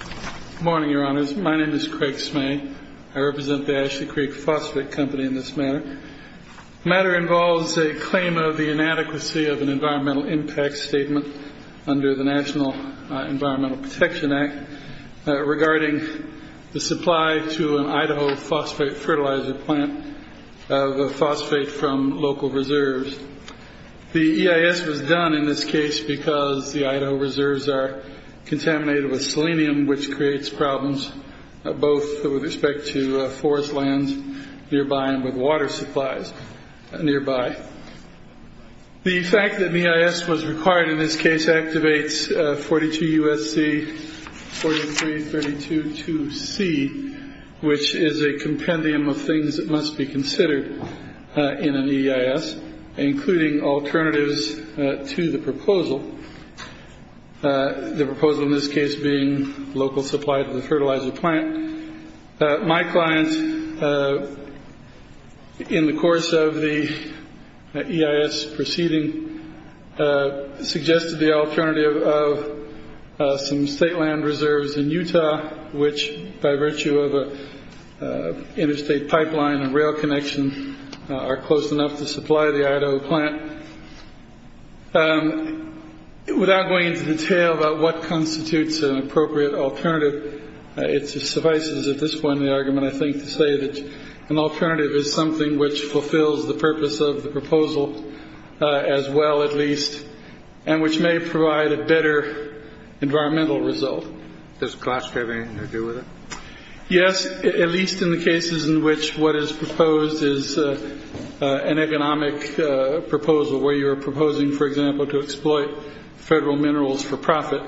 Good morning, Your Honors. My name is Craig Smay. I represent the Ashley Creek Phosphate Company in this matter. The matter involves a claim of the inadequacy of an environmental impact statement under the National Environmental Protection Act regarding the supply to an Idaho phosphate fertilizer plant of phosphate from local reserves. The EIS was done in this case because the Idaho reserves are contaminated with selenium, which creates problems both with respect to forest lands nearby and with water supplies nearby. The fact that an EIS was required in this case activates 42 U.S.C. 43322C, which is a compendium of things that must be considered in an EIS, including alternatives to the proposal, the proposal in this case being local supply to the fertilizer plant. My client, in the course of the EIS proceeding, suggested the alternative of some state land reserves in Utah, which, by virtue of an interstate pipeline and rail connection, are close enough to supply the Idaho plant. Without going into detail about what constitutes an appropriate alternative, it suffices at this point in the argument, I think, to say that an alternative is something which fulfills the purpose of the proposal as well, at least, and which may provide a better environmental result. Does Glask have anything to do with it? Yes, at least in the cases in which what is proposed is an economic proposal, where you are proposing, for example, to exploit federal minerals for profit,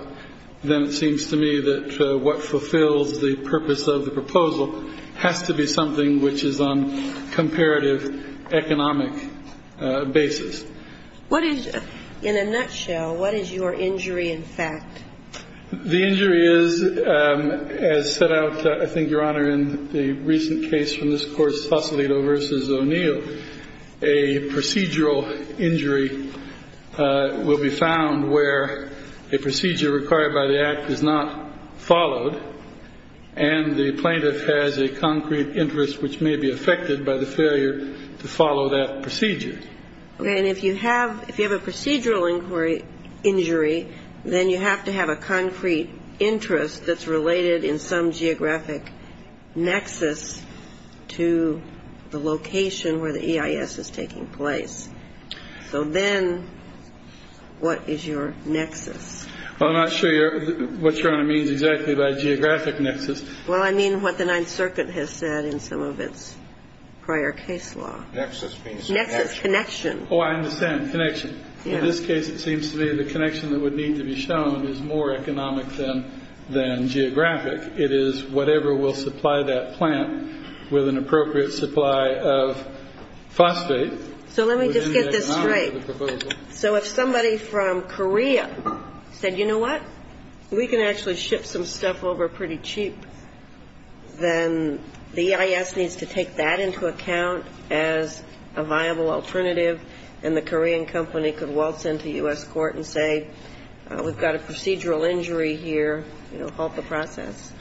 then it seems to me that what fulfills the purpose of the proposal has to be something which is on comparative economic basis. What is, in a nutshell, what is your injury in fact? The injury is, as set out, I think, Your Honor, in the recent case from this course, Fosolito v. O'Neill, a procedural injury will be found where a procedure required by the Act is not followed and the plaintiff has a concrete interest which may be affected by the failure to follow that procedure. Okay. And if you have a procedural injury, then you have to have a concrete interest that's related in some geographic nexus to the location where the EIS is taking place. So then what is your nexus? Well, I'm not sure what Your Honor means exactly by geographic nexus. Well, I mean what the Ninth Circuit has said in some of its prior case law. Nexus means connection. Nexus, connection. Oh, I understand, connection. In this case, it seems to me the connection that would need to be shown is more economic than geographic. It is whatever will supply that plant with an appropriate supply of phosphate. So let me just get this straight. So if somebody from Korea said, you know what, we can actually ship some stuff over pretty cheap, then the EIS needs to take that into account as a viable alternative, and the Korean company could waltz into U.S. court and say we've got a procedural injury here, you know, halt the process.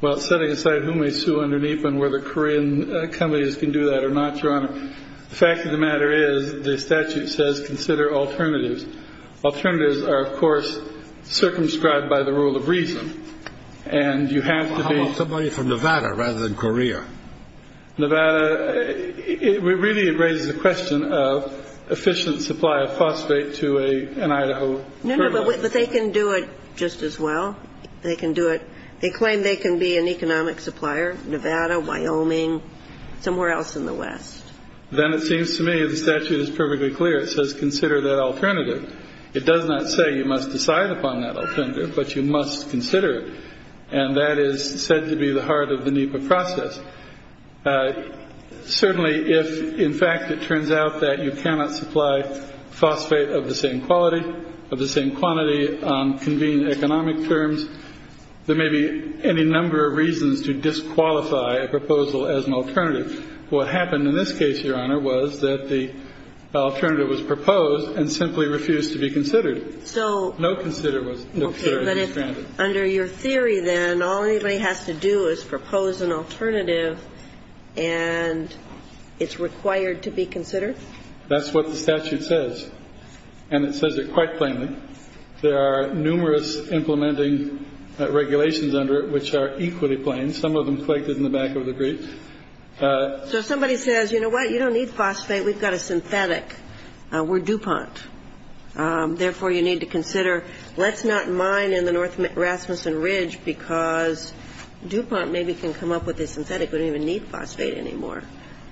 Well, setting aside who may sue underneath and whether Korean companies can do that or not, Your Honor, the fact of the matter is the statute says consider alternatives. Alternatives are, of course, circumscribed by the rule of reason. And you have to be ---- Well, how about somebody from Nevada rather than Korea? Nevada, it really raises the question of efficient supply of phosphate to an Idaho firm. No, no, but they can do it just as well. They can do it. They claim they can be an economic supplier, Nevada, Wyoming, somewhere else in the West. Then it seems to me the statute is perfectly clear. It says consider that alternative. It does not say you must decide upon that alternative, but you must consider it, and that is said to be the heart of the NEPA process. Certainly if, in fact, it turns out that you cannot supply phosphate of the same quality, of the same quantity on convenient economic terms, there may be any number of reasons to disqualify a proposal as an alternative. What happened in this case, Your Honor, was that the alternative was proposed and simply refused to be considered. So ---- No consider was considered to be stranded. Okay. But under your theory, then, all anybody has to do is propose an alternative and it's required to be considered? That's what the statute says. And it says it quite plainly. There are numerous implementing regulations under it which are equally plain. Some of them clicked in the back of the brief. So somebody says, you know what, you don't need phosphate. We've got a synthetic. We're DuPont. Therefore, you need to consider. Let's not mine in the North Rasmussen Ridge because DuPont maybe can come up with a synthetic. We don't even need phosphate anymore.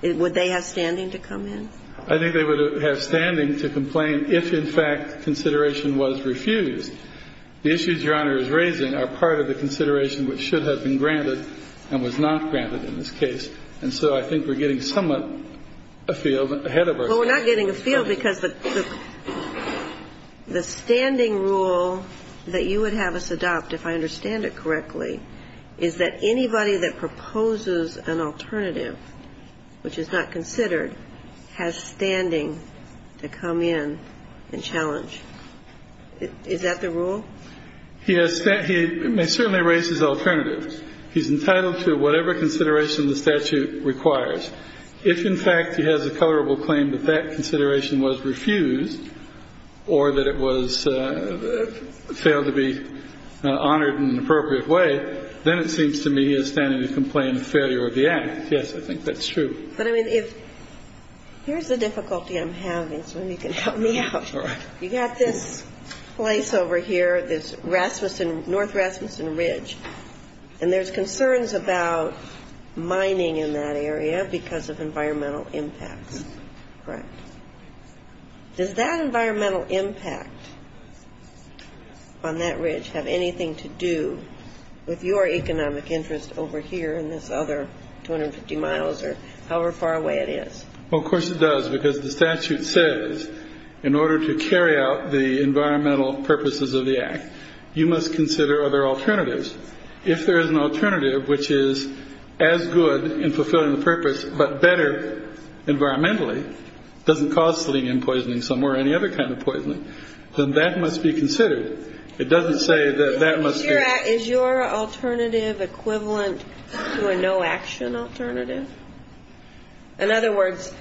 Would they have standing to come in? I think they would have standing to complain if, in fact, consideration was refused. The issues Your Honor is raising are part of the consideration which should have been granted and was not granted in this case. And so I think we're getting somewhat afield ahead of our time. Well, we're not getting afield because the standing rule that you would have us adopt, if I understand it correctly, is that anybody that proposes an alternative, which is not considered, has standing to come in and challenge. Is that the rule? He may certainly raise his alternative. He's entitled to whatever consideration the statute requires. If, in fact, he has a colorable claim that that consideration was refused or that it was failed to be honored in an appropriate way, then it seems to me he has standing to complain of failure of the act. Yes, I think that's true. But, I mean, if here's the difficulty I'm having, so if you can help me out. All right. You've got this place over here, this North Rasmussen Ridge, and there's concerns about mining in that area because of environmental impacts. Correct. Does that environmental impact on that ridge have anything to do with your economic interest over here in this other 250 miles or however far away it is? Well, of course it does because the statute says in order to carry out the environmental purposes of the act, you must consider other alternatives. If there is an alternative which is as good in fulfilling the purpose but better environmentally, doesn't cause selenium poisoning somewhere or any other kind of poisoning, then that must be considered. It doesn't say that that must be. Is your alternative equivalent to a no-action alternative? In other words,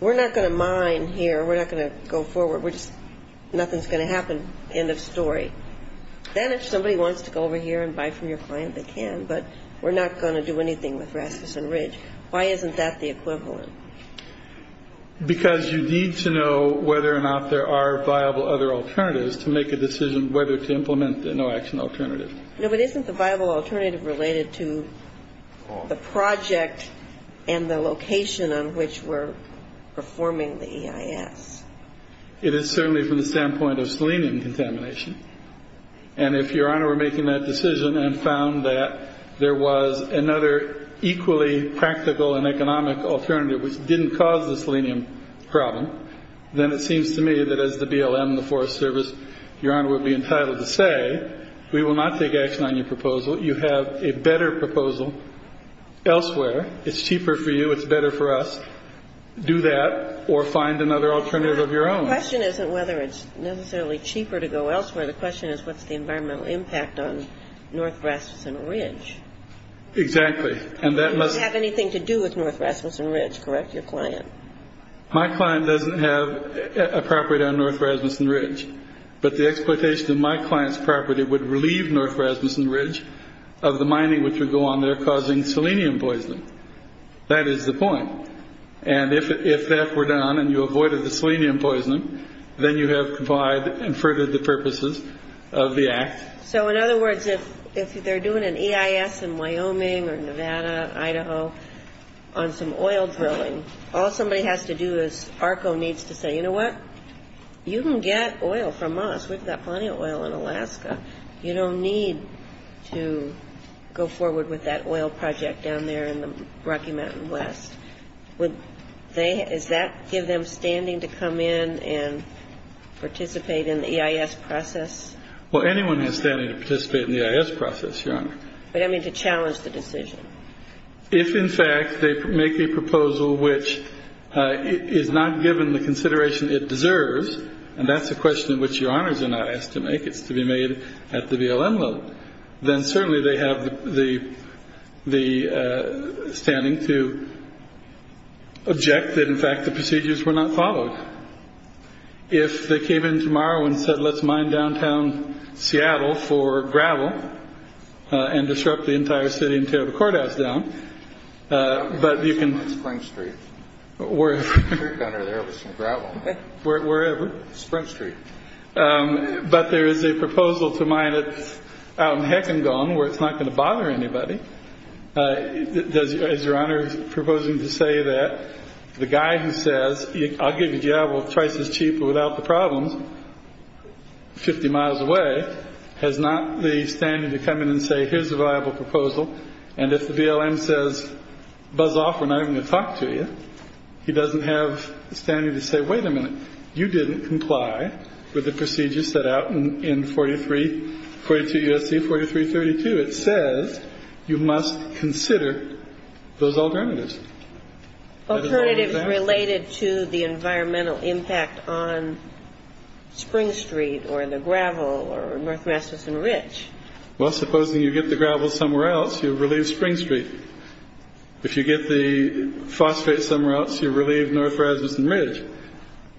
we're not going to mine here, we're not going to go forward, we're just nothing's going to happen, end of story. Then if somebody wants to go over here and buy from your client, they can, but we're not going to do anything with Rasmussen Ridge. Why isn't that the equivalent? Because you need to know whether or not there are viable other alternatives to make a decision whether to implement the no-action alternative. No, but isn't the viable alternative related to the project and the location on which we're performing the EIS? It is certainly from the standpoint of selenium contamination, and if Your Honor were making that decision and found that there was another equally practical and economic alternative which didn't cause the selenium problem, then it seems to me that as the BLM, the Forest Service, Your Honor would be entitled to say, we will not take action on your proposal. You have a better proposal elsewhere. It's cheaper for you, it's better for us. Do that or find another alternative of your own. The question isn't whether it's necessarily cheaper to go elsewhere. The question is what's the environmental impact on North Rasmussen Ridge. Exactly. And that must have anything to do with North Rasmussen Ridge, correct, your client? My client doesn't have a property on North Rasmussen Ridge. But the exploitation of my client's property would relieve North Rasmussen Ridge of the mining which would go on there causing selenium poisoning. That is the point. And if that were done and you avoided the selenium poisoning, then you have complied and furthered the purposes of the act. So in other words, if they're doing an EIS in Wyoming or Nevada, Idaho, on some oil drilling, all somebody has to do is, ARCO needs to say, you know what, you can get oil from us. We've got plenty of oil in Alaska. You don't need to go forward with that oil project down there in the Rocky Mountain West. Would they, does that give them standing to come in and participate in the EIS process? Well, anyone has standing to participate in the EIS process, Your Honor. But I mean to challenge the decision. If, in fact, they make a proposal which is not given the consideration it deserves, and that's a question which Your Honors are not asked to make, it's to be made at the BLM level, then certainly they have the standing to object that, in fact, the procedures were not followed. If they came in tomorrow and said, let's mine downtown Seattle for gravel and disrupt the entire city and tear the courthouse down, but you can- Spring Street. Wherever. There was some gravel. Wherever. Spring Street. But there is a proposal to mine that's out in Heck and Gone where it's not going to bother anybody. Is Your Honor proposing to say that the guy who says, I'll give you a job twice as cheap without the problems, 50 miles away, has not the standing to come in and say, here's a viable proposal, and if the BLM says, buzz off, we're not even going to talk to you, he doesn't have the standing to say, wait a minute, you didn't comply with the procedures set out in 42 U.S.C. 4332. It says you must consider those alternatives. Alternatives related to the environmental impact on Spring Street or the gravel or North Rasmussen Ridge. Well, supposing you get the gravel somewhere else, you relieve Spring Street. If you get the phosphate somewhere else, you relieve North Rasmussen Ridge.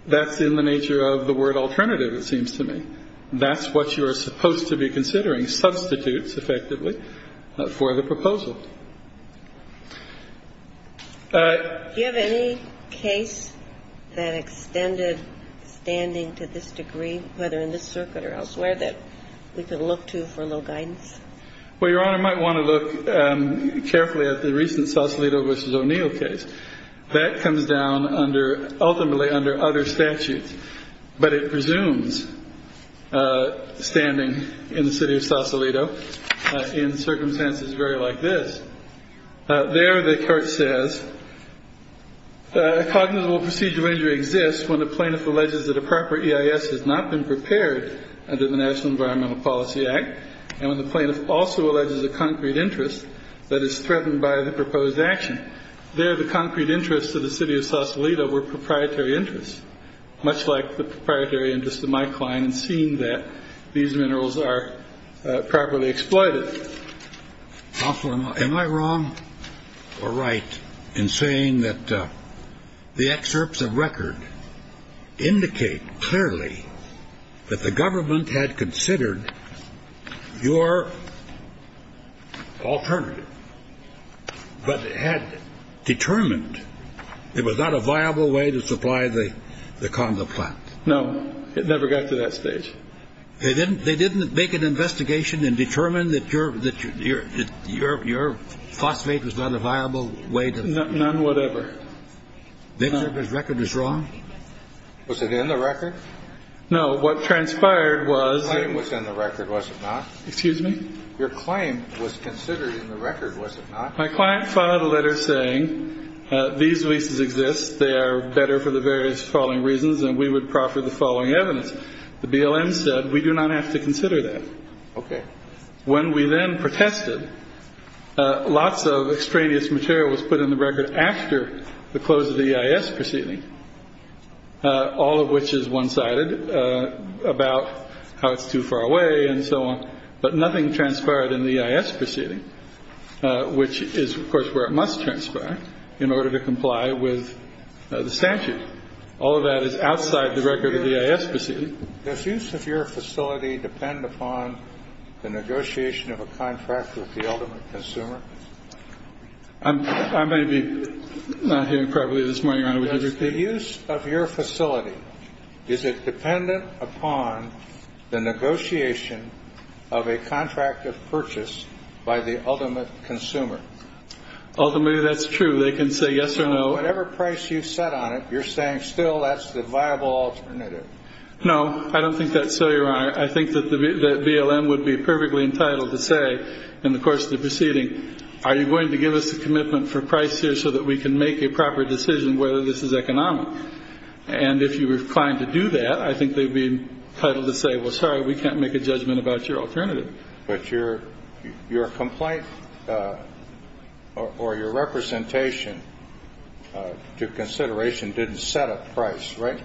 That's in the nature of the word alternative, it seems to me. That's what you are supposed to be considering, substitutes, effectively, for the proposal. Do you have any case that extended standing to this degree, whether in this circuit or elsewhere, that we could look to for a little guidance? Well, Your Honor might want to look carefully at the recent Sausalito v. O'Neill case. That comes down ultimately under other statutes, but it presumes standing in the city of Sausalito in circumstances very like this. There the court says, a cognizable procedural injury exists when a plaintiff alleges that a proper EIS has not been prepared under the National Environmental Policy Act, and when the plaintiff also alleges a concrete interest that is threatened by the proposed action. There the concrete interests of the city of Sausalito were proprietary interests, much like the proprietary interests of my client in seeing that these minerals are properly exploited. Counselor, am I wrong or right in saying that the excerpts of record indicate clearly that the government had considered your alternative, but had determined it was not a viable way to supply the condo plant? No, it never got to that stage. They didn't. They didn't make an investigation and determine that you're that you're that you're you're phosphate was not a viable way to. None whatever. This record is wrong. Was it in the record? No. What transpired was. It was in the record. Was it not? Excuse me. Your claim was considered in the record. Was it not? My client filed a letter saying these leases exist. They are better for the various following reasons, and we would proffer the following evidence. The BLM said we do not have to consider that. Okay. When we then protested, lots of extraneous material was put in the record after the close of the EIS proceeding, all of which is one sided about how it's too far away and so on. But nothing transpired in the EIS proceeding, which is, of course, where it must transpire in order to comply with the statute. All of that is outside the record of the EIS proceeding. This use of your facility depend upon the negotiation of a contract with the ultimate consumer. I may be not hearing properly this morning, Your Honor. The use of your facility, is it dependent upon the negotiation of a contract of purchase by the ultimate consumer? Ultimately, that's true. They can say yes or no. Whatever price you set on it, you're saying still that's the viable alternative. No, I don't think that's so, Your Honor. I think that the BLM would be perfectly entitled to say in the course of the proceeding, are you going to give us a commitment for price here so that we can make a proper decision whether this is economic? And if you were inclined to do that, I think they'd be entitled to say, well, sorry, we can't make a judgment about your alternative. But your complaint or your representation to consideration didn't set a price, right?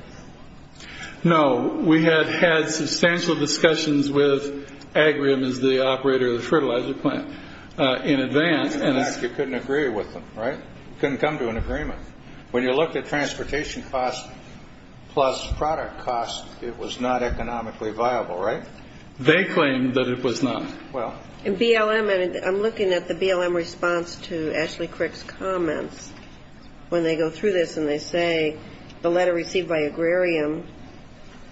No. We had had substantial discussions with Agrium as the operator of the fertilizer plant in advance. In fact, you couldn't agree with them, right? You couldn't come to an agreement. When you looked at transportation costs plus product costs, it was not economically viable, right? They claimed that it was not. In BLM, I'm looking at the BLM response to Ashley Crick's comments when they go through this and they say the letter received by Agrarium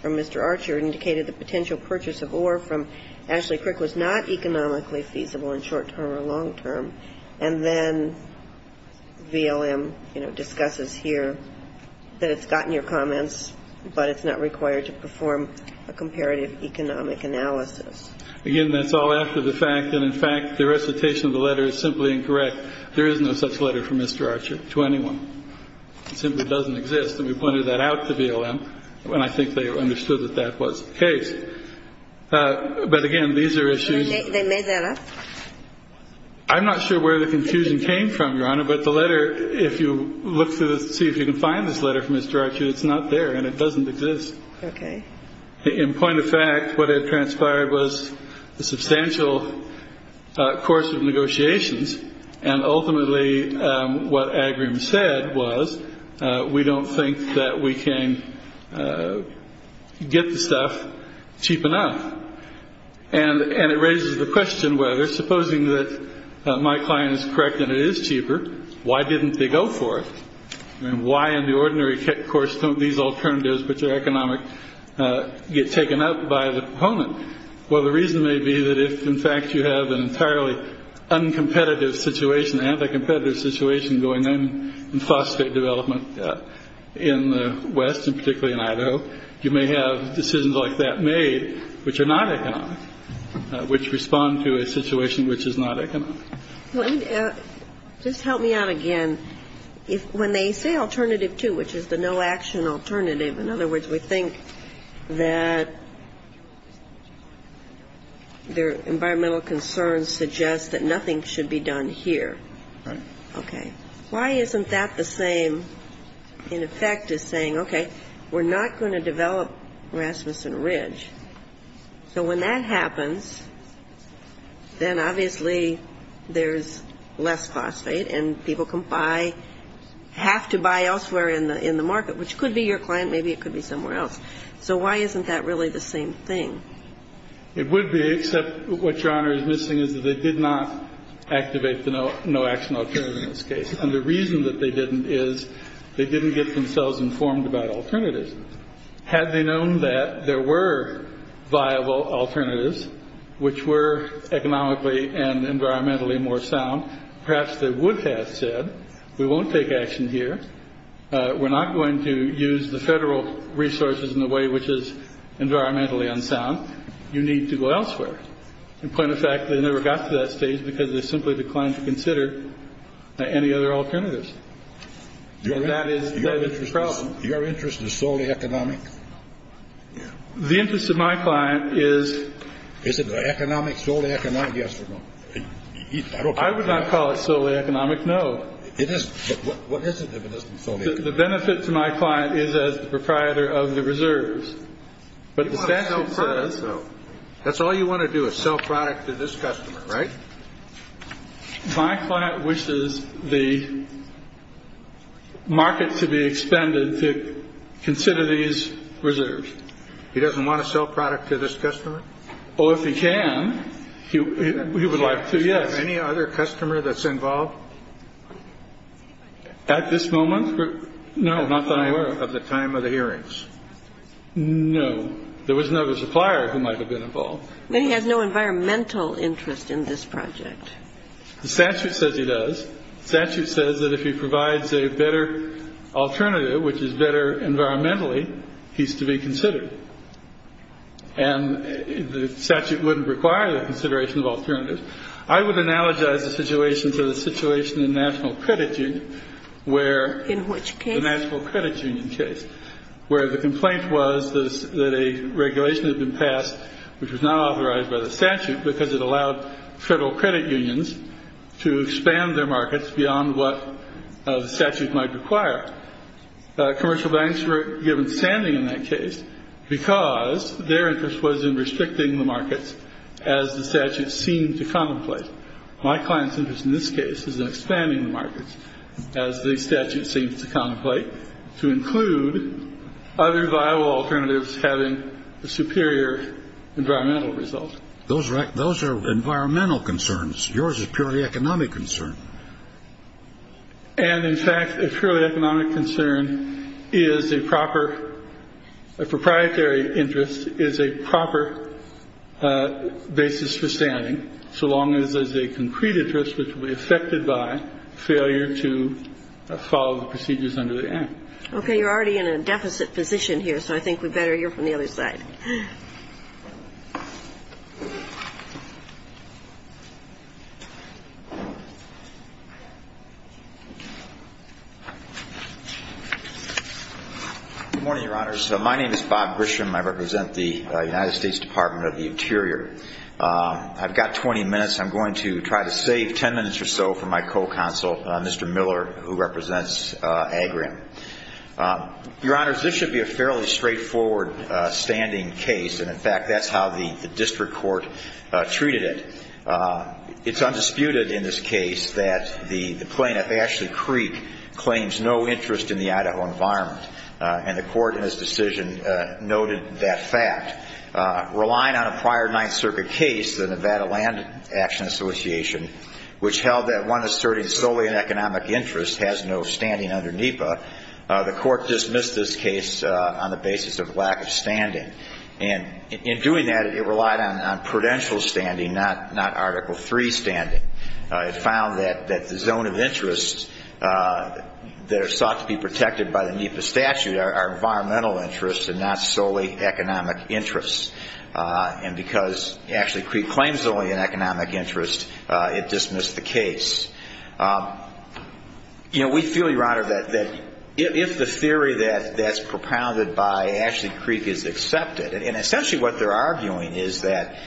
from Mr. Archer indicated the potential purchase of ore from Ashley Crick was not economically feasible in short term or long term. And then BLM, you know, discusses here that it's gotten your comments, but it's not required to perform a comparative economic analysis. Again, that's all after the fact that, in fact, the recitation of the letter is simply incorrect. There is no such letter from Mr. Archer to anyone. It simply doesn't exist. And we pointed that out to BLM, and I think they understood that that was the case. But, again, these are issues. They made that up? I'm not sure where the confusion came from, Your Honor, but the letter, if you look to see if you can find this letter from Mr. Archer, it's not there and it doesn't exist. Okay. In point of fact, what had transpired was a substantial course of negotiations, and ultimately what Agrarium said was we don't think that we can get the stuff cheap enough. And it raises the question whether, supposing that my client is correct that it is cheaper, why didn't they go for it? And why in the ordinary course don't these alternatives, which are economic, get taken up by the proponent? Well, the reason may be that if, in fact, you have an entirely uncompetitive situation, anti-competitive situation going on in phosphate development in the West and particularly in Idaho, you may have decisions like that made which are not economic, which respond to a situation which is not economic. Just help me out again. When they say alternative two, which is the no-action alternative, in other words, we think that their environmental concerns suggest that nothing should be done here. Right. Okay. Why isn't that the same, in effect, as saying, okay, we're not going to develop Rasmussen Ridge. So when that happens, then obviously there's less phosphate and people can buy, have to buy elsewhere in the market, which could be your client, maybe it could be somewhere else. So why isn't that really the same thing? It would be, except what Your Honor is missing is that they did not activate the no-action alternative in this case. And the reason that they didn't is they didn't get themselves informed about alternatives. Had they known that there were viable alternatives, which were economically and environmentally more sound, perhaps they would have said, we won't take action here. We're not going to use the federal resources in a way which is environmentally unsound. You need to go elsewhere. In point of fact, they never got to that stage because they simply declined to consider any other alternatives. And that is the problem. Your interest is solely economic? The interest of my client is. Is it economic, solely economic? Yes or no? I would not call it solely economic, no. It isn't. What is it if it isn't solely economic? The benefit to my client is as the proprietor of the reserves. But the statute says. That's all you want to do is sell product to this customer, right? My client wishes the market to be expended to consider these reserves. He doesn't want to sell product to this customer? Oh, if he can, he would like to, yes. Is there any other customer that's involved? At this moment? No, not that I'm aware of. At the time of the hearings? No. There was no supplier who might have been involved. Then he has no environmental interest in this project. The statute says he does. The statute says that if he provides a better alternative, which is better environmentally, he's to be considered. And the statute wouldn't require the consideration of alternatives. I would analogize the situation to the situation in the National Credit Union where the complaint was that a regulation had been passed, which was not authorized by the statute because it allowed federal credit unions to expand their markets beyond what the statute might require. Commercial banks were given standing in that case because their interest was in restricting the markets, as the statute seemed to contemplate. My client's interest in this case is in expanding the markets, as the statute seems to contemplate, to include other viable alternatives having a superior environmental result. Those are environmental concerns. Yours is purely economic concern. And, in fact, a purely economic concern is a proper ‑‑ a proprietary interest is a proper basis for standing, so long as there's a concrete interest which will be affected by failure to follow the procedures under the Act. Okay. You're already in a deficit position here, so I think we'd better hear from the other side. Good morning, Your Honors. My name is Bob Grisham. I've got 20 minutes. I'm going to try to save 10 minutes or so for my co‑counsel, Mr. Miller, who represents Agrion. Your Honors, this should be a fairly straightforward standing case, and, in fact, that's how the district court treated it. It's undisputed in this case that the plaintiff, Ashley Creek, claims no interest in the Idaho environment, and the court in this decision noted that fact. Relying on a prior Ninth Circuit case, the Nevada Land Action Association, which held that one asserting solely an economic interest has no standing under NEPA, the court dismissed this case on the basis of lack of standing. And in doing that, it relied on prudential standing, not Article III standing. It found that the zone of interests that are sought to be protected by the NEPA statute are environmental interests and not solely economic interests. And because Ashley Creek claims only an economic interest, it dismissed the case. You know, we feel, Your Honor, that if the theory that's propounded by Ashley Creek is accepted, and essentially what they're arguing is that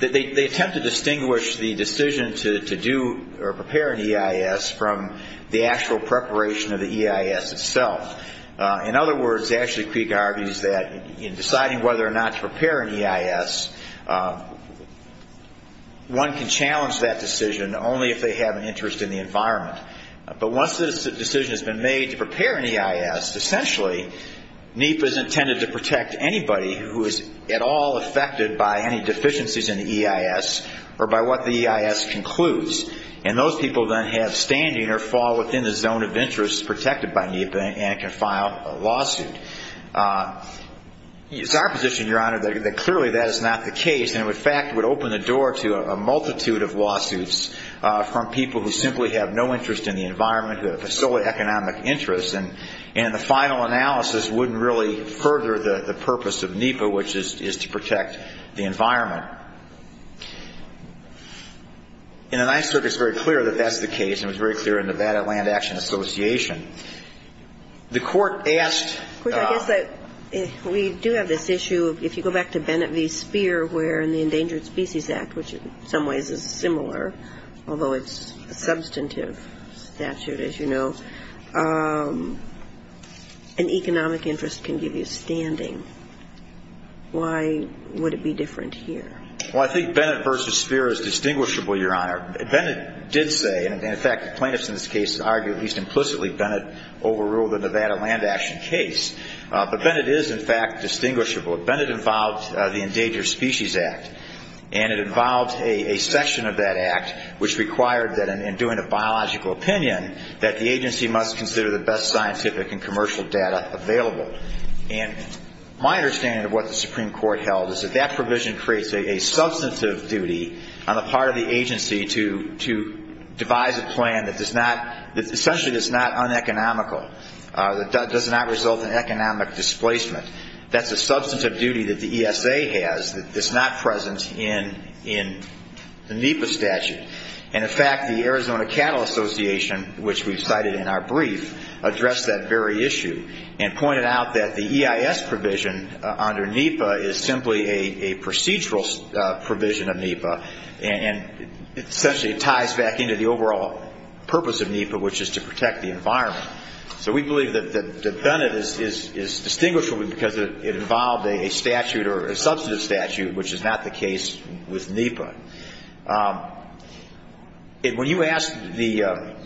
they attempt to distinguish the decision to do or prepare an EIS from the actual preparation of the EIS itself. In other words, Ashley Creek argues that in deciding whether or not to prepare an EIS, one can challenge that decision only if they have an interest in the environment. But once the decision has been made to prepare an EIS, essentially NEPA is intended to protect anybody who is at all affected by any deficiencies in the EIS or by what the EIS concludes. And those people then have standing or fall within the zone of interests protected by NEPA and can file a lawsuit. It's our position, Your Honor, that clearly that is not the case and, in fact, would open the door to a multitude of lawsuits from people who simply have no interest in the environment, who have a solely economic interest. And the final analysis wouldn't really further the purpose of NEPA, which is to protect the environment. In a nice circuit, it's very clear that that's the case and it was very clear in the Nevada Land Action Association. The Court asked the ---- I guess we do have this issue, if you go back to Bennett v. Speer, where in the Endangered Species Act, which in some ways is similar, although it's a substantive statute, as you know, an economic interest can give you standing. Why would it be different here? Well, I think Bennett v. Speer is distinguishable, Your Honor. Bennett did say, and, in fact, the plaintiffs in this case argue, at least implicitly, Bennett overruled the Nevada Land Action case. But Bennett is, in fact, distinguishable. Bennett involved the Endangered Species Act and it involved a section of that act which required that in doing a biological opinion that the agency must consider the best scientific and commercial data available. And my understanding of what the Supreme Court held is that that provision creates a substantive duty on the part of the agency to devise a plan that essentially is not uneconomical, that does not result in economic displacement. That's a substantive duty that the ESA has that is not present in the NEPA statute. And, in fact, the Arizona Cattle Association, which we've cited in our brief, addressed that very issue and pointed out that the EIS provision under NEPA is simply a procedural provision of NEPA. And, essentially, it ties back into the overall purpose of NEPA, which is to protect the environment. So we believe that Bennett is distinguishable because it involved a statute or a substantive statute, which is not the case with NEPA. When you asked Mr.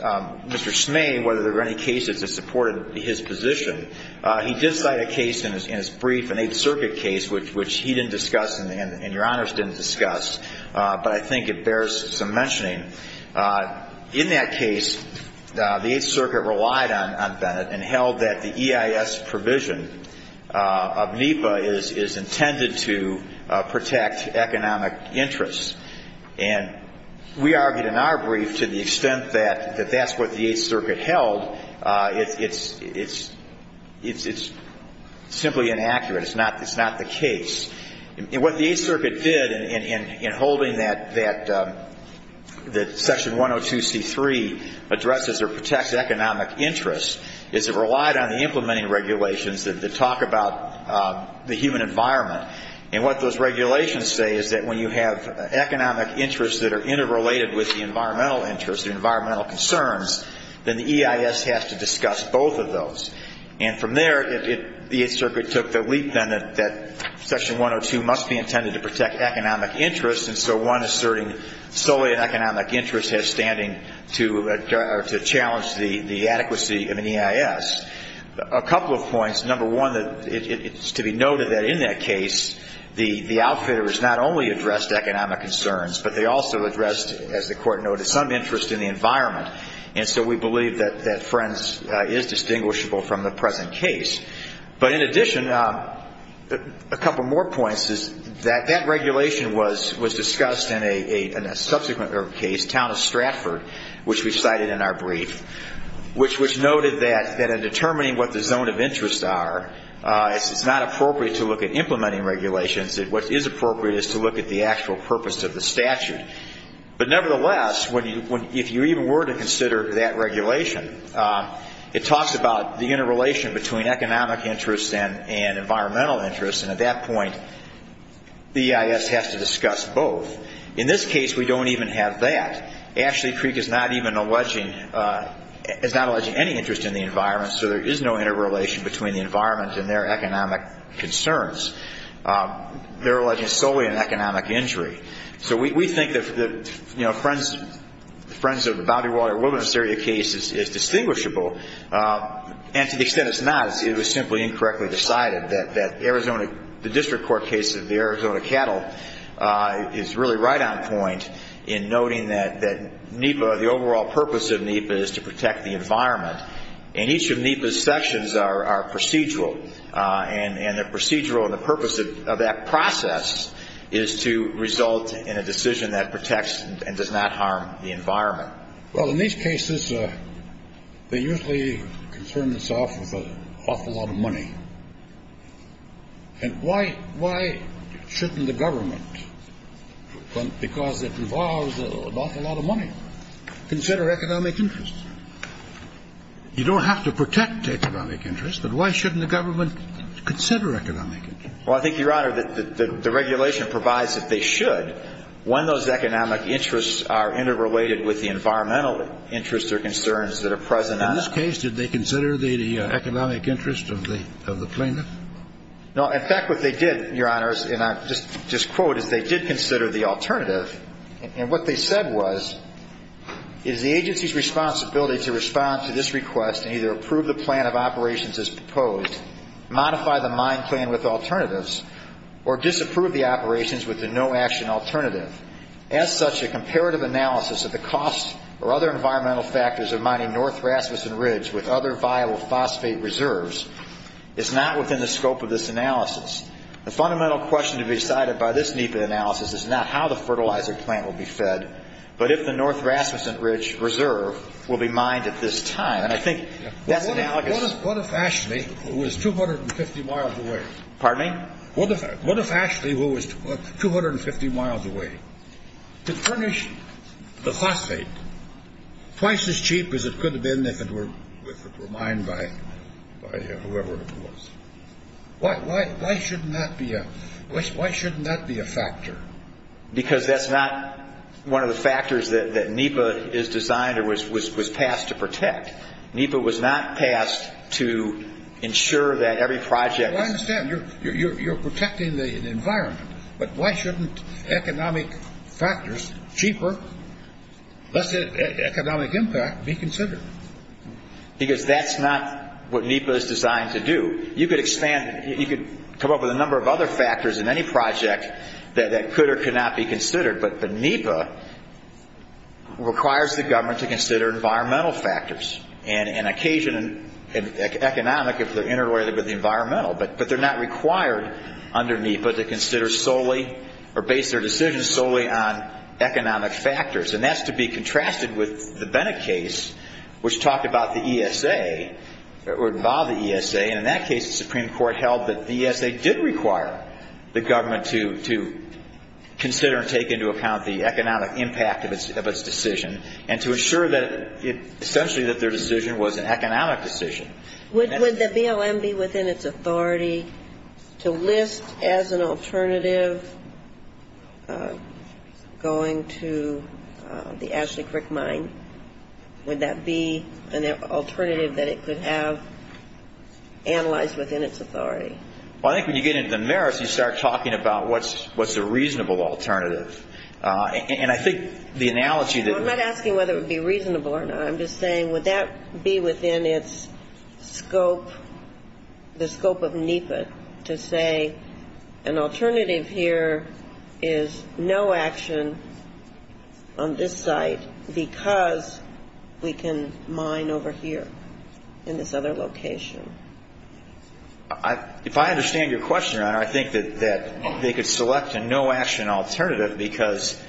Smay whether there were any cases that supported his position, he did cite a case in his brief, an Eighth Circuit case, which he didn't discuss and Your Honors didn't discuss, but I think it bears some mentioning. In that case, the Eighth Circuit relied on Bennett and held that the EIS provision of NEPA is intended to protect economic interests. And we argued in our brief to the extent that that's what the Eighth Circuit held. It's simply inaccurate. It's not the case. And what the Eighth Circuit did in holding that Section 102C3 addresses or protects economic interests is it relied on the implementing regulations that talk about the human environment. And what those regulations say is that when you have economic interests that are interrelated with the environmental interests, the environmental concerns, then the EIS has to discuss both of those. And from there, the Eighth Circuit took the leap, then, that Section 102 must be intended to protect economic interests, and so one asserting solely an economic interest has standing to challenge the adequacy of an EIS. A couple of points. Number one, it's to be noted that in that case, the outfitter has not only addressed economic concerns, but they also addressed, as the Court noted, some interest in the environment. And so we believe that Friends is distinguishable from the present case. But in addition, a couple more points is that that regulation was discussed in a subsequent case, the town of Stratford, which we cited in our brief, which noted that in determining what the zone of interest are, it's not appropriate to look at implementing regulations. What is appropriate is to look at the actual purpose of the statute. But nevertheless, if you even were to consider that regulation, it talks about the interrelation between economic interests and environmental interests, and at that point, the EIS has to discuss both. In this case, we don't even have that. Ashley Creek is not alleging any interest in the environment, so there is no interrelation between the environment and their economic concerns. They're alleging solely an economic injury. So we think that Friends of the Boundary Water and Wilderness Area case is distinguishable, and to the extent it's not, it was simply incorrectly decided that the district court case of the Arizona cattle is really right on point in noting that NEPA, the overall purpose of NEPA, is to protect the environment. And each of NEPA's sections are procedural, and they're procedural in the purpose of that process is to result in a decision that protects and does not harm the environment. Well, in these cases, they usually concern themselves with an awful lot of money. And why shouldn't the government, because it involves an awful lot of money, consider economic interests? You don't have to protect economic interests, but why shouldn't the government consider economic interests? Well, I think, Your Honor, that the regulation provides that they should interrelated with the environmental interests or concerns that are present on it. In this case, did they consider the economic interest of the plaintiff? No. In fact, what they did, Your Honors, and I'll just quote, is they did consider the alternative. And what they said was, it is the agency's responsibility to respond to this request and either approve the plan of operations as proposed, modify the mine plan with alternatives, or disapprove the operations with the no-action alternative. As such, a comparative analysis of the costs or other environmental factors of mining North Rasmussen Ridge with other viable phosphate reserves is not within the scope of this analysis. The fundamental question to be decided by this NEPA analysis is not how the fertilizer plant will be fed, but if the North Rasmussen Ridge reserve will be mined at this time. And I think that's analogous. What if Ashley, who is 250 miles away, Pardon me? What if Ashley, who is 250 miles away, could furnish the phosphate twice as cheap as it could have been if it were mined by whoever it was? Why shouldn't that be a factor? Because that's not one of the factors that NEPA is designed or was passed to protect. NEPA was not passed to ensure that every project Well, I understand. You're protecting the environment. But why shouldn't economic factors, cheaper, less economic impact, be considered? Because that's not what NEPA is designed to do. You could come up with a number of other factors in any project that could or could not be considered, but the NEPA requires the government to consider environmental factors and economic if they're interrelated with the environmental, but they're not required under NEPA to consider solely or base their decisions solely on economic factors. And that's to be contrasted with the Bennett case, which talked about the ESA or involved the ESA, and in that case, the Supreme Court held that the ESA did require the government to consider and take into account the economic impact of its decision and to assure that essentially that their decision was an economic decision. Would the BLM be within its authority to list as an alternative going to the Ashley Crick mine? Would that be an alternative that it could have analyzed within its authority? Well, I think when you get into the merits, you start talking about what's a reasonable alternative. And I think the analogy that I'm not asking whether it would be reasonable or not. I'm just saying would that be within its scope, the scope of NEPA, to say an alternative here is no action on this site because we can mine over here in this other location? If I understand your question, Your Honor, I think that they could select a no-action alternative because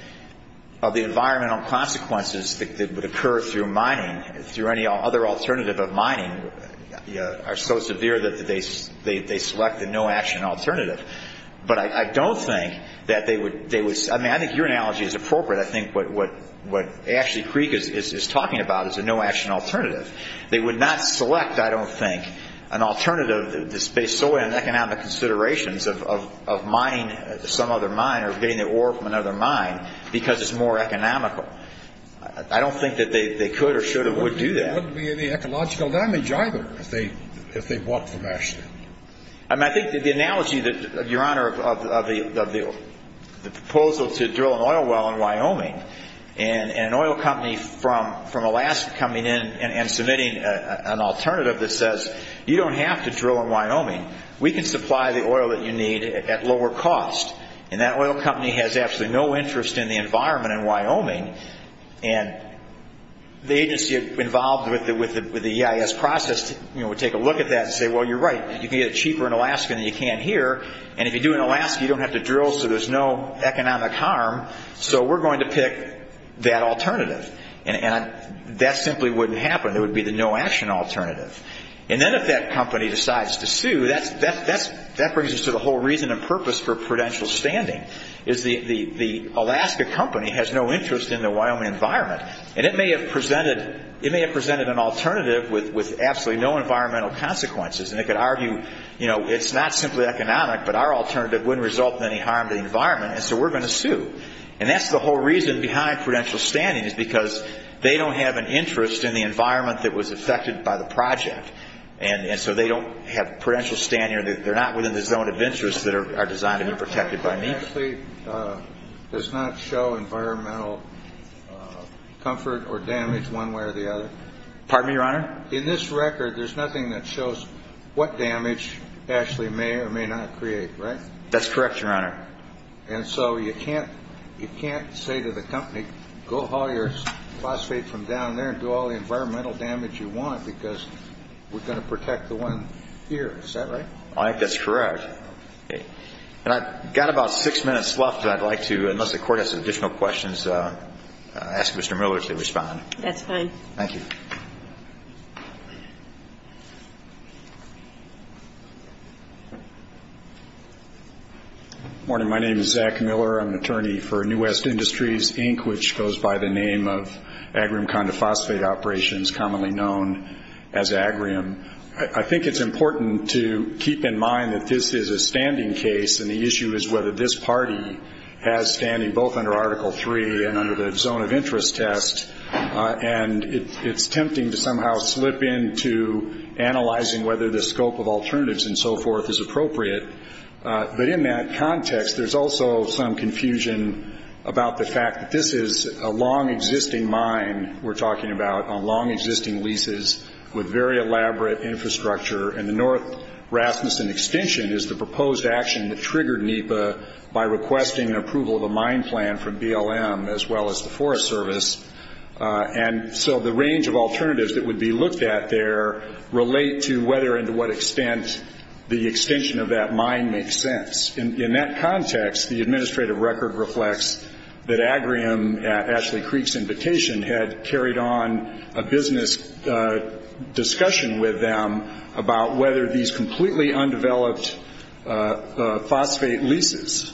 of the environmental consequences that would occur through mining, through any other alternative of mining are so severe that they select a no-action alternative. But I don't think that they would – I mean, I think your analogy is appropriate. I think what Ashley Crick is talking about is a no-action alternative. They would not select, I don't think, an alternative that's based solely on economic considerations of mining some other mine or getting the ore from another mine because it's more economical. I don't think that they could or should or would do that. There wouldn't be any ecological damage either if they walked from Ashley. I mean, I think the analogy that, Your Honor, of the proposal to drill an oil well in Wyoming and an oil company from Alaska coming in and submitting an alternative that says, you don't have to drill in Wyoming. We can supply the oil that you need at lower cost. And that oil company has absolutely no interest in the environment in Wyoming. And the agency involved with the EIS process would take a look at that and say, well, you're right. You can get it cheaper in Alaska than you can here. And if you do it in Alaska, you don't have to drill so there's no economic harm. So we're going to pick that alternative. And that simply wouldn't happen. It would be the no-action alternative. And then if that company decides to sue, that brings us to the whole reason and purpose for prudential standing, is the Alaska company has no interest in the Wyoming environment. And it may have presented an alternative with absolutely no environmental consequences. And it could argue, you know, it's not simply economic, but our alternative wouldn't result in any harm to the environment, and so we're going to sue. And that's the whole reason behind prudential standing is because they don't have an interest in the environment that was affected by the project. And so they don't have prudential standing or they're not within the zone of interest that are designed to be protected by me. Actually, it does not show environmental comfort or damage one way or the other. Pardon me, Your Honor? In this record, there's nothing that shows what damage actually may or may not create, right? That's correct, Your Honor. And so you can't say to the company, go haul your phosphate from down there and do all the environmental damage you want because we're going to protect the one here. Is that right? I think that's correct. And I've got about six minutes left, and I'd like to, unless the Court has additional questions, ask Mr. Miller to respond. That's fine. Thank you. Good morning. My name is Zach Miller. I'm an attorney for New West Industries, Inc., which goes by the name of Agrium Conde Phosphate Operations, commonly known as Agrium. I think it's important to keep in mind that this is a standing case, and the issue is whether this party has standing both under Article III and under the zone of interest test. And it's tempting to somehow slip into analyzing whether the scope of alternatives and so forth is appropriate. But in that context, there's also some confusion about the fact that this is a long-existing mine we're talking about, on long-existing leases with very elaborate infrastructure, and the North Rasmussen extension is the proposed action that triggered NEPA by requesting approval of a mine plan from BLM as well as the Forest Service. And so the range of alternatives that would be looked at there relate to whether and to what extent the extension of that mine makes sense. In that context, the administrative record reflects that Agrium, at Ashley Creek's invitation, had carried on a business discussion with them about whether these completely undeveloped phosphate leases,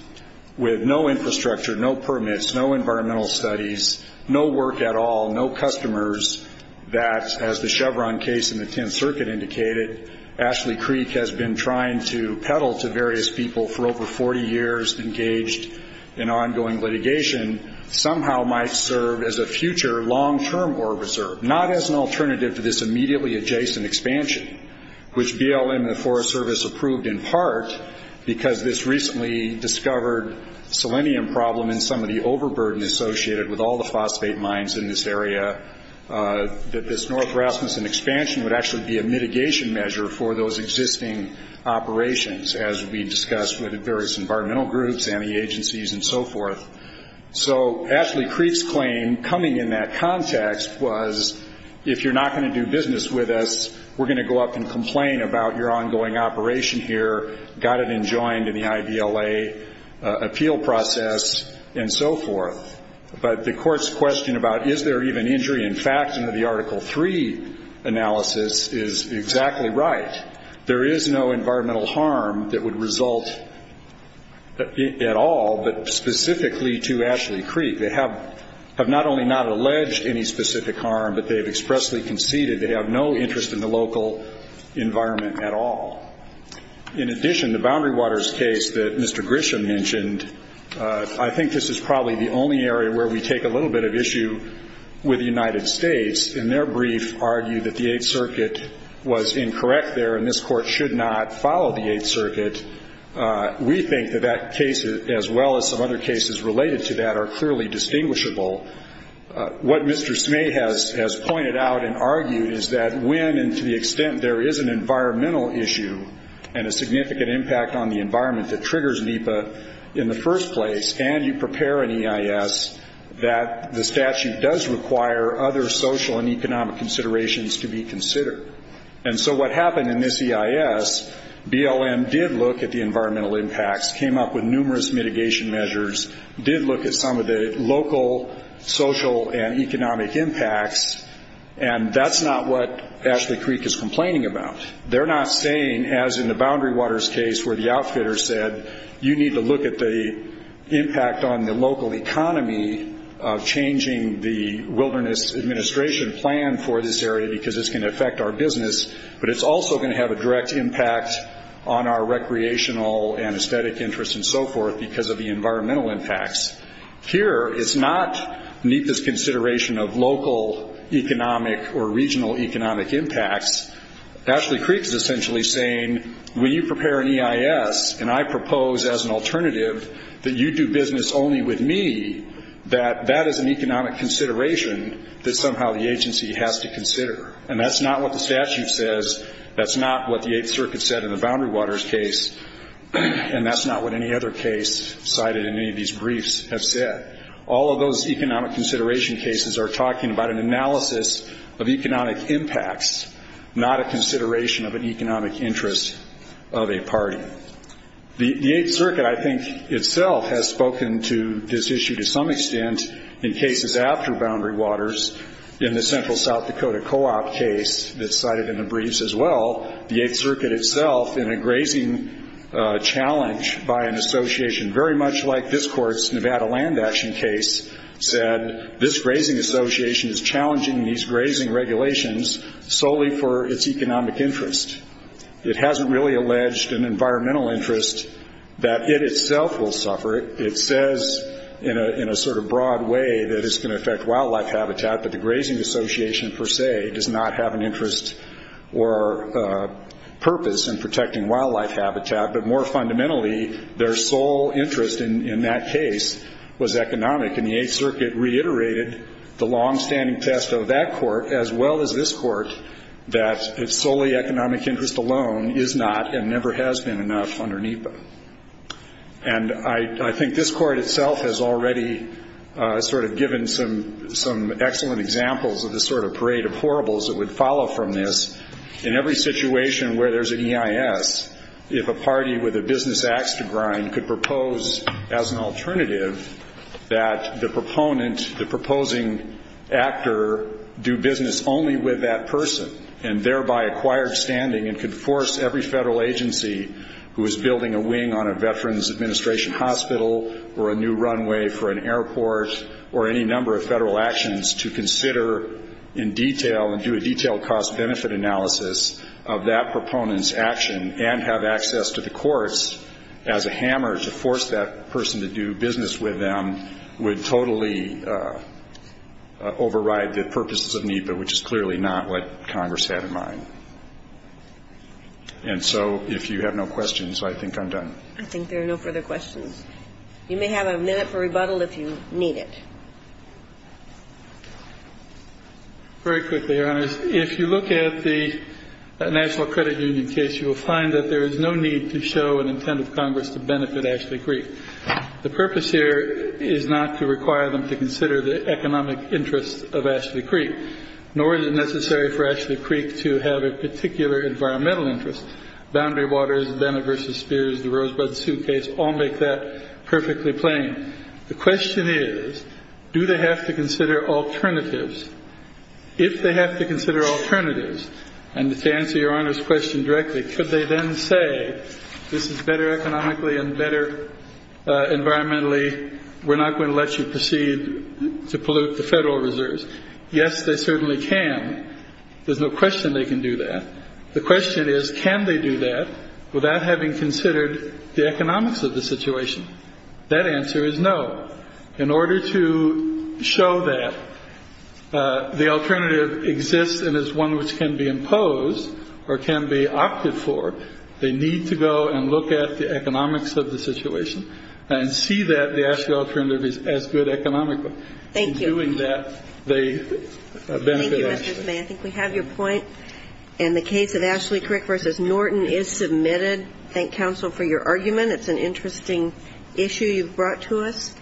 with no infrastructure, no permits, no environmental studies, no work at all, no customers, that, as the Chevron case in the Tenth Circuit indicated, Ashley Creek has been trying to peddle to various people for over 40 years, engaged in ongoing litigation, somehow might serve as a future long-term ore reserve, not as an alternative to this immediately adjacent expansion, which BLM and the Forest Service approved in part because this recently discovered selenium problem and some of the overburden associated with all the phosphate mines in this area, that this North Rasmussen expansion would actually be a mitigation measure for those existing operations, as we discussed with the various environmental groups and the agencies and so forth. So Ashley Creek's claim coming in that context was, if you're not going to do business with us, we're going to go up and complain about your ongoing operation here, got it enjoined in the IVLA appeal process, and so forth. But the Court's question about is there even injury in fact under the Article III analysis is exactly right. There is no environmental harm that would result at all, but specifically to Ashley Creek. They have not only not alleged any specific harm, but they have expressly conceded they have no interest in the local environment at all. In addition, the Boundary Waters case that Mr. Grisham mentioned, I think this is probably the only area where we take a little bit of issue with the United States. In their brief, argued that the Eighth Circuit was incorrect there and this Court should not follow the Eighth Circuit. We think that that case, as well as some other cases related to that, are clearly distinguishable. What Mr. Smay has pointed out and argued is that when and to the extent there is an environmental issue and a significant impact on the environment that triggers NEPA in the first place, and you prepare an EIS, that the statute does require other social and economic considerations to be considered. And so what happened in this EIS, BLM did look at the environmental impacts, came up with numerous mitigation measures, did look at some of the local social and economic impacts, and that's not what Ashley Creek is complaining about. They're not saying, as in the Boundary Waters case where the outfitter said, you need to look at the impact on the local economy of changing the Wilderness Administration plan for this area because it's going to affect our business, but it's also going to have a direct impact on our recreational and aesthetic interests and so forth because of the environmental impacts. Here, it's not NEPA's consideration of local economic or regional economic impacts. Ashley Creek is essentially saying, when you prepare an EIS and I propose as an alternative that you do business only with me, that that is an economic consideration that somehow the agency has to consider. And that's not what the statute says, that's not what the Eighth Circuit said in the Boundary Waters case, and that's not what any other case cited in any of these briefs have said. All of those economic consideration cases are talking about an analysis of economic impacts, not a consideration of an economic interest of a party. The Eighth Circuit, I think, itself has spoken to this issue to some extent in cases after Boundary Waters in the Central South Dakota co-op case that's cited in the briefs as well. The Eighth Circuit itself, in a grazing challenge by an association very much like this court's Nevada Land Action case, said this grazing association is challenging these grazing regulations solely for its economic interest. It hasn't really alleged an environmental interest that it itself will suffer. It says in a sort of broad way that it's going to affect wildlife habitat, but the grazing association per se does not have an interest or purpose in protecting wildlife habitat. But more fundamentally, their sole interest in that case was economic, and the Eighth Circuit reiterated the longstanding test of that court as well as this court that its solely economic interest alone is not and never has been enough under NEPA. And I think this court itself has already sort of given some excellent examples of the sort of parade of horribles that would follow from this. In every situation where there's an EIS, if a party with a business axe to grind could propose as an alternative that the proponent, the proposing actor, do business only with that person and thereby acquire standing and could force every federal agency who is building a wing on a Veterans Administration hospital or a new runway for an airport or any number of federal actions to consider in detail and do a detailed cost-benefit analysis of that proponent's action and have access to the courts as a hammer to force that person to do business with them, would totally override the purposes of NEPA, which is clearly not what Congress had in mind. And so if you have no questions, I think I'm done. I think there are no further questions. You may have a minute for rebuttal if you need it. Very quickly, Your Honors. If you look at the National Credit Union case, you will find that there is no need to show an intent of Congress to benefit Ashley Creek. The purpose here is not to require them to consider the economic interests of Ashley Creek, nor is it necessary for Ashley Creek to have a particular environmental interest. Boundary Waters, Bennett v. Spears, the Rosebud suitcase all make that perfectly plain. The question is, do they have to consider alternatives? If they have to consider alternatives, and to answer Your Honor's question directly, could they then say this is better economically and better environmentally, we're not going to let you proceed to pollute the federal reserves? Yes, they certainly can. There's no question they can do that. The question is, can they do that without having considered the economics of the situation? That answer is no. In order to show that the alternative exists and is one which can be imposed or can be opted for, they need to go and look at the economics of the situation and see that the actual alternative is as good economically. Thank you. In doing that, they benefit Ashley. Thank you, Mr. Zimay. I think we have your point. And the case of Ashley Creek v. Norton is submitted. Thank counsel for your argument. It's an interesting issue you've brought to us.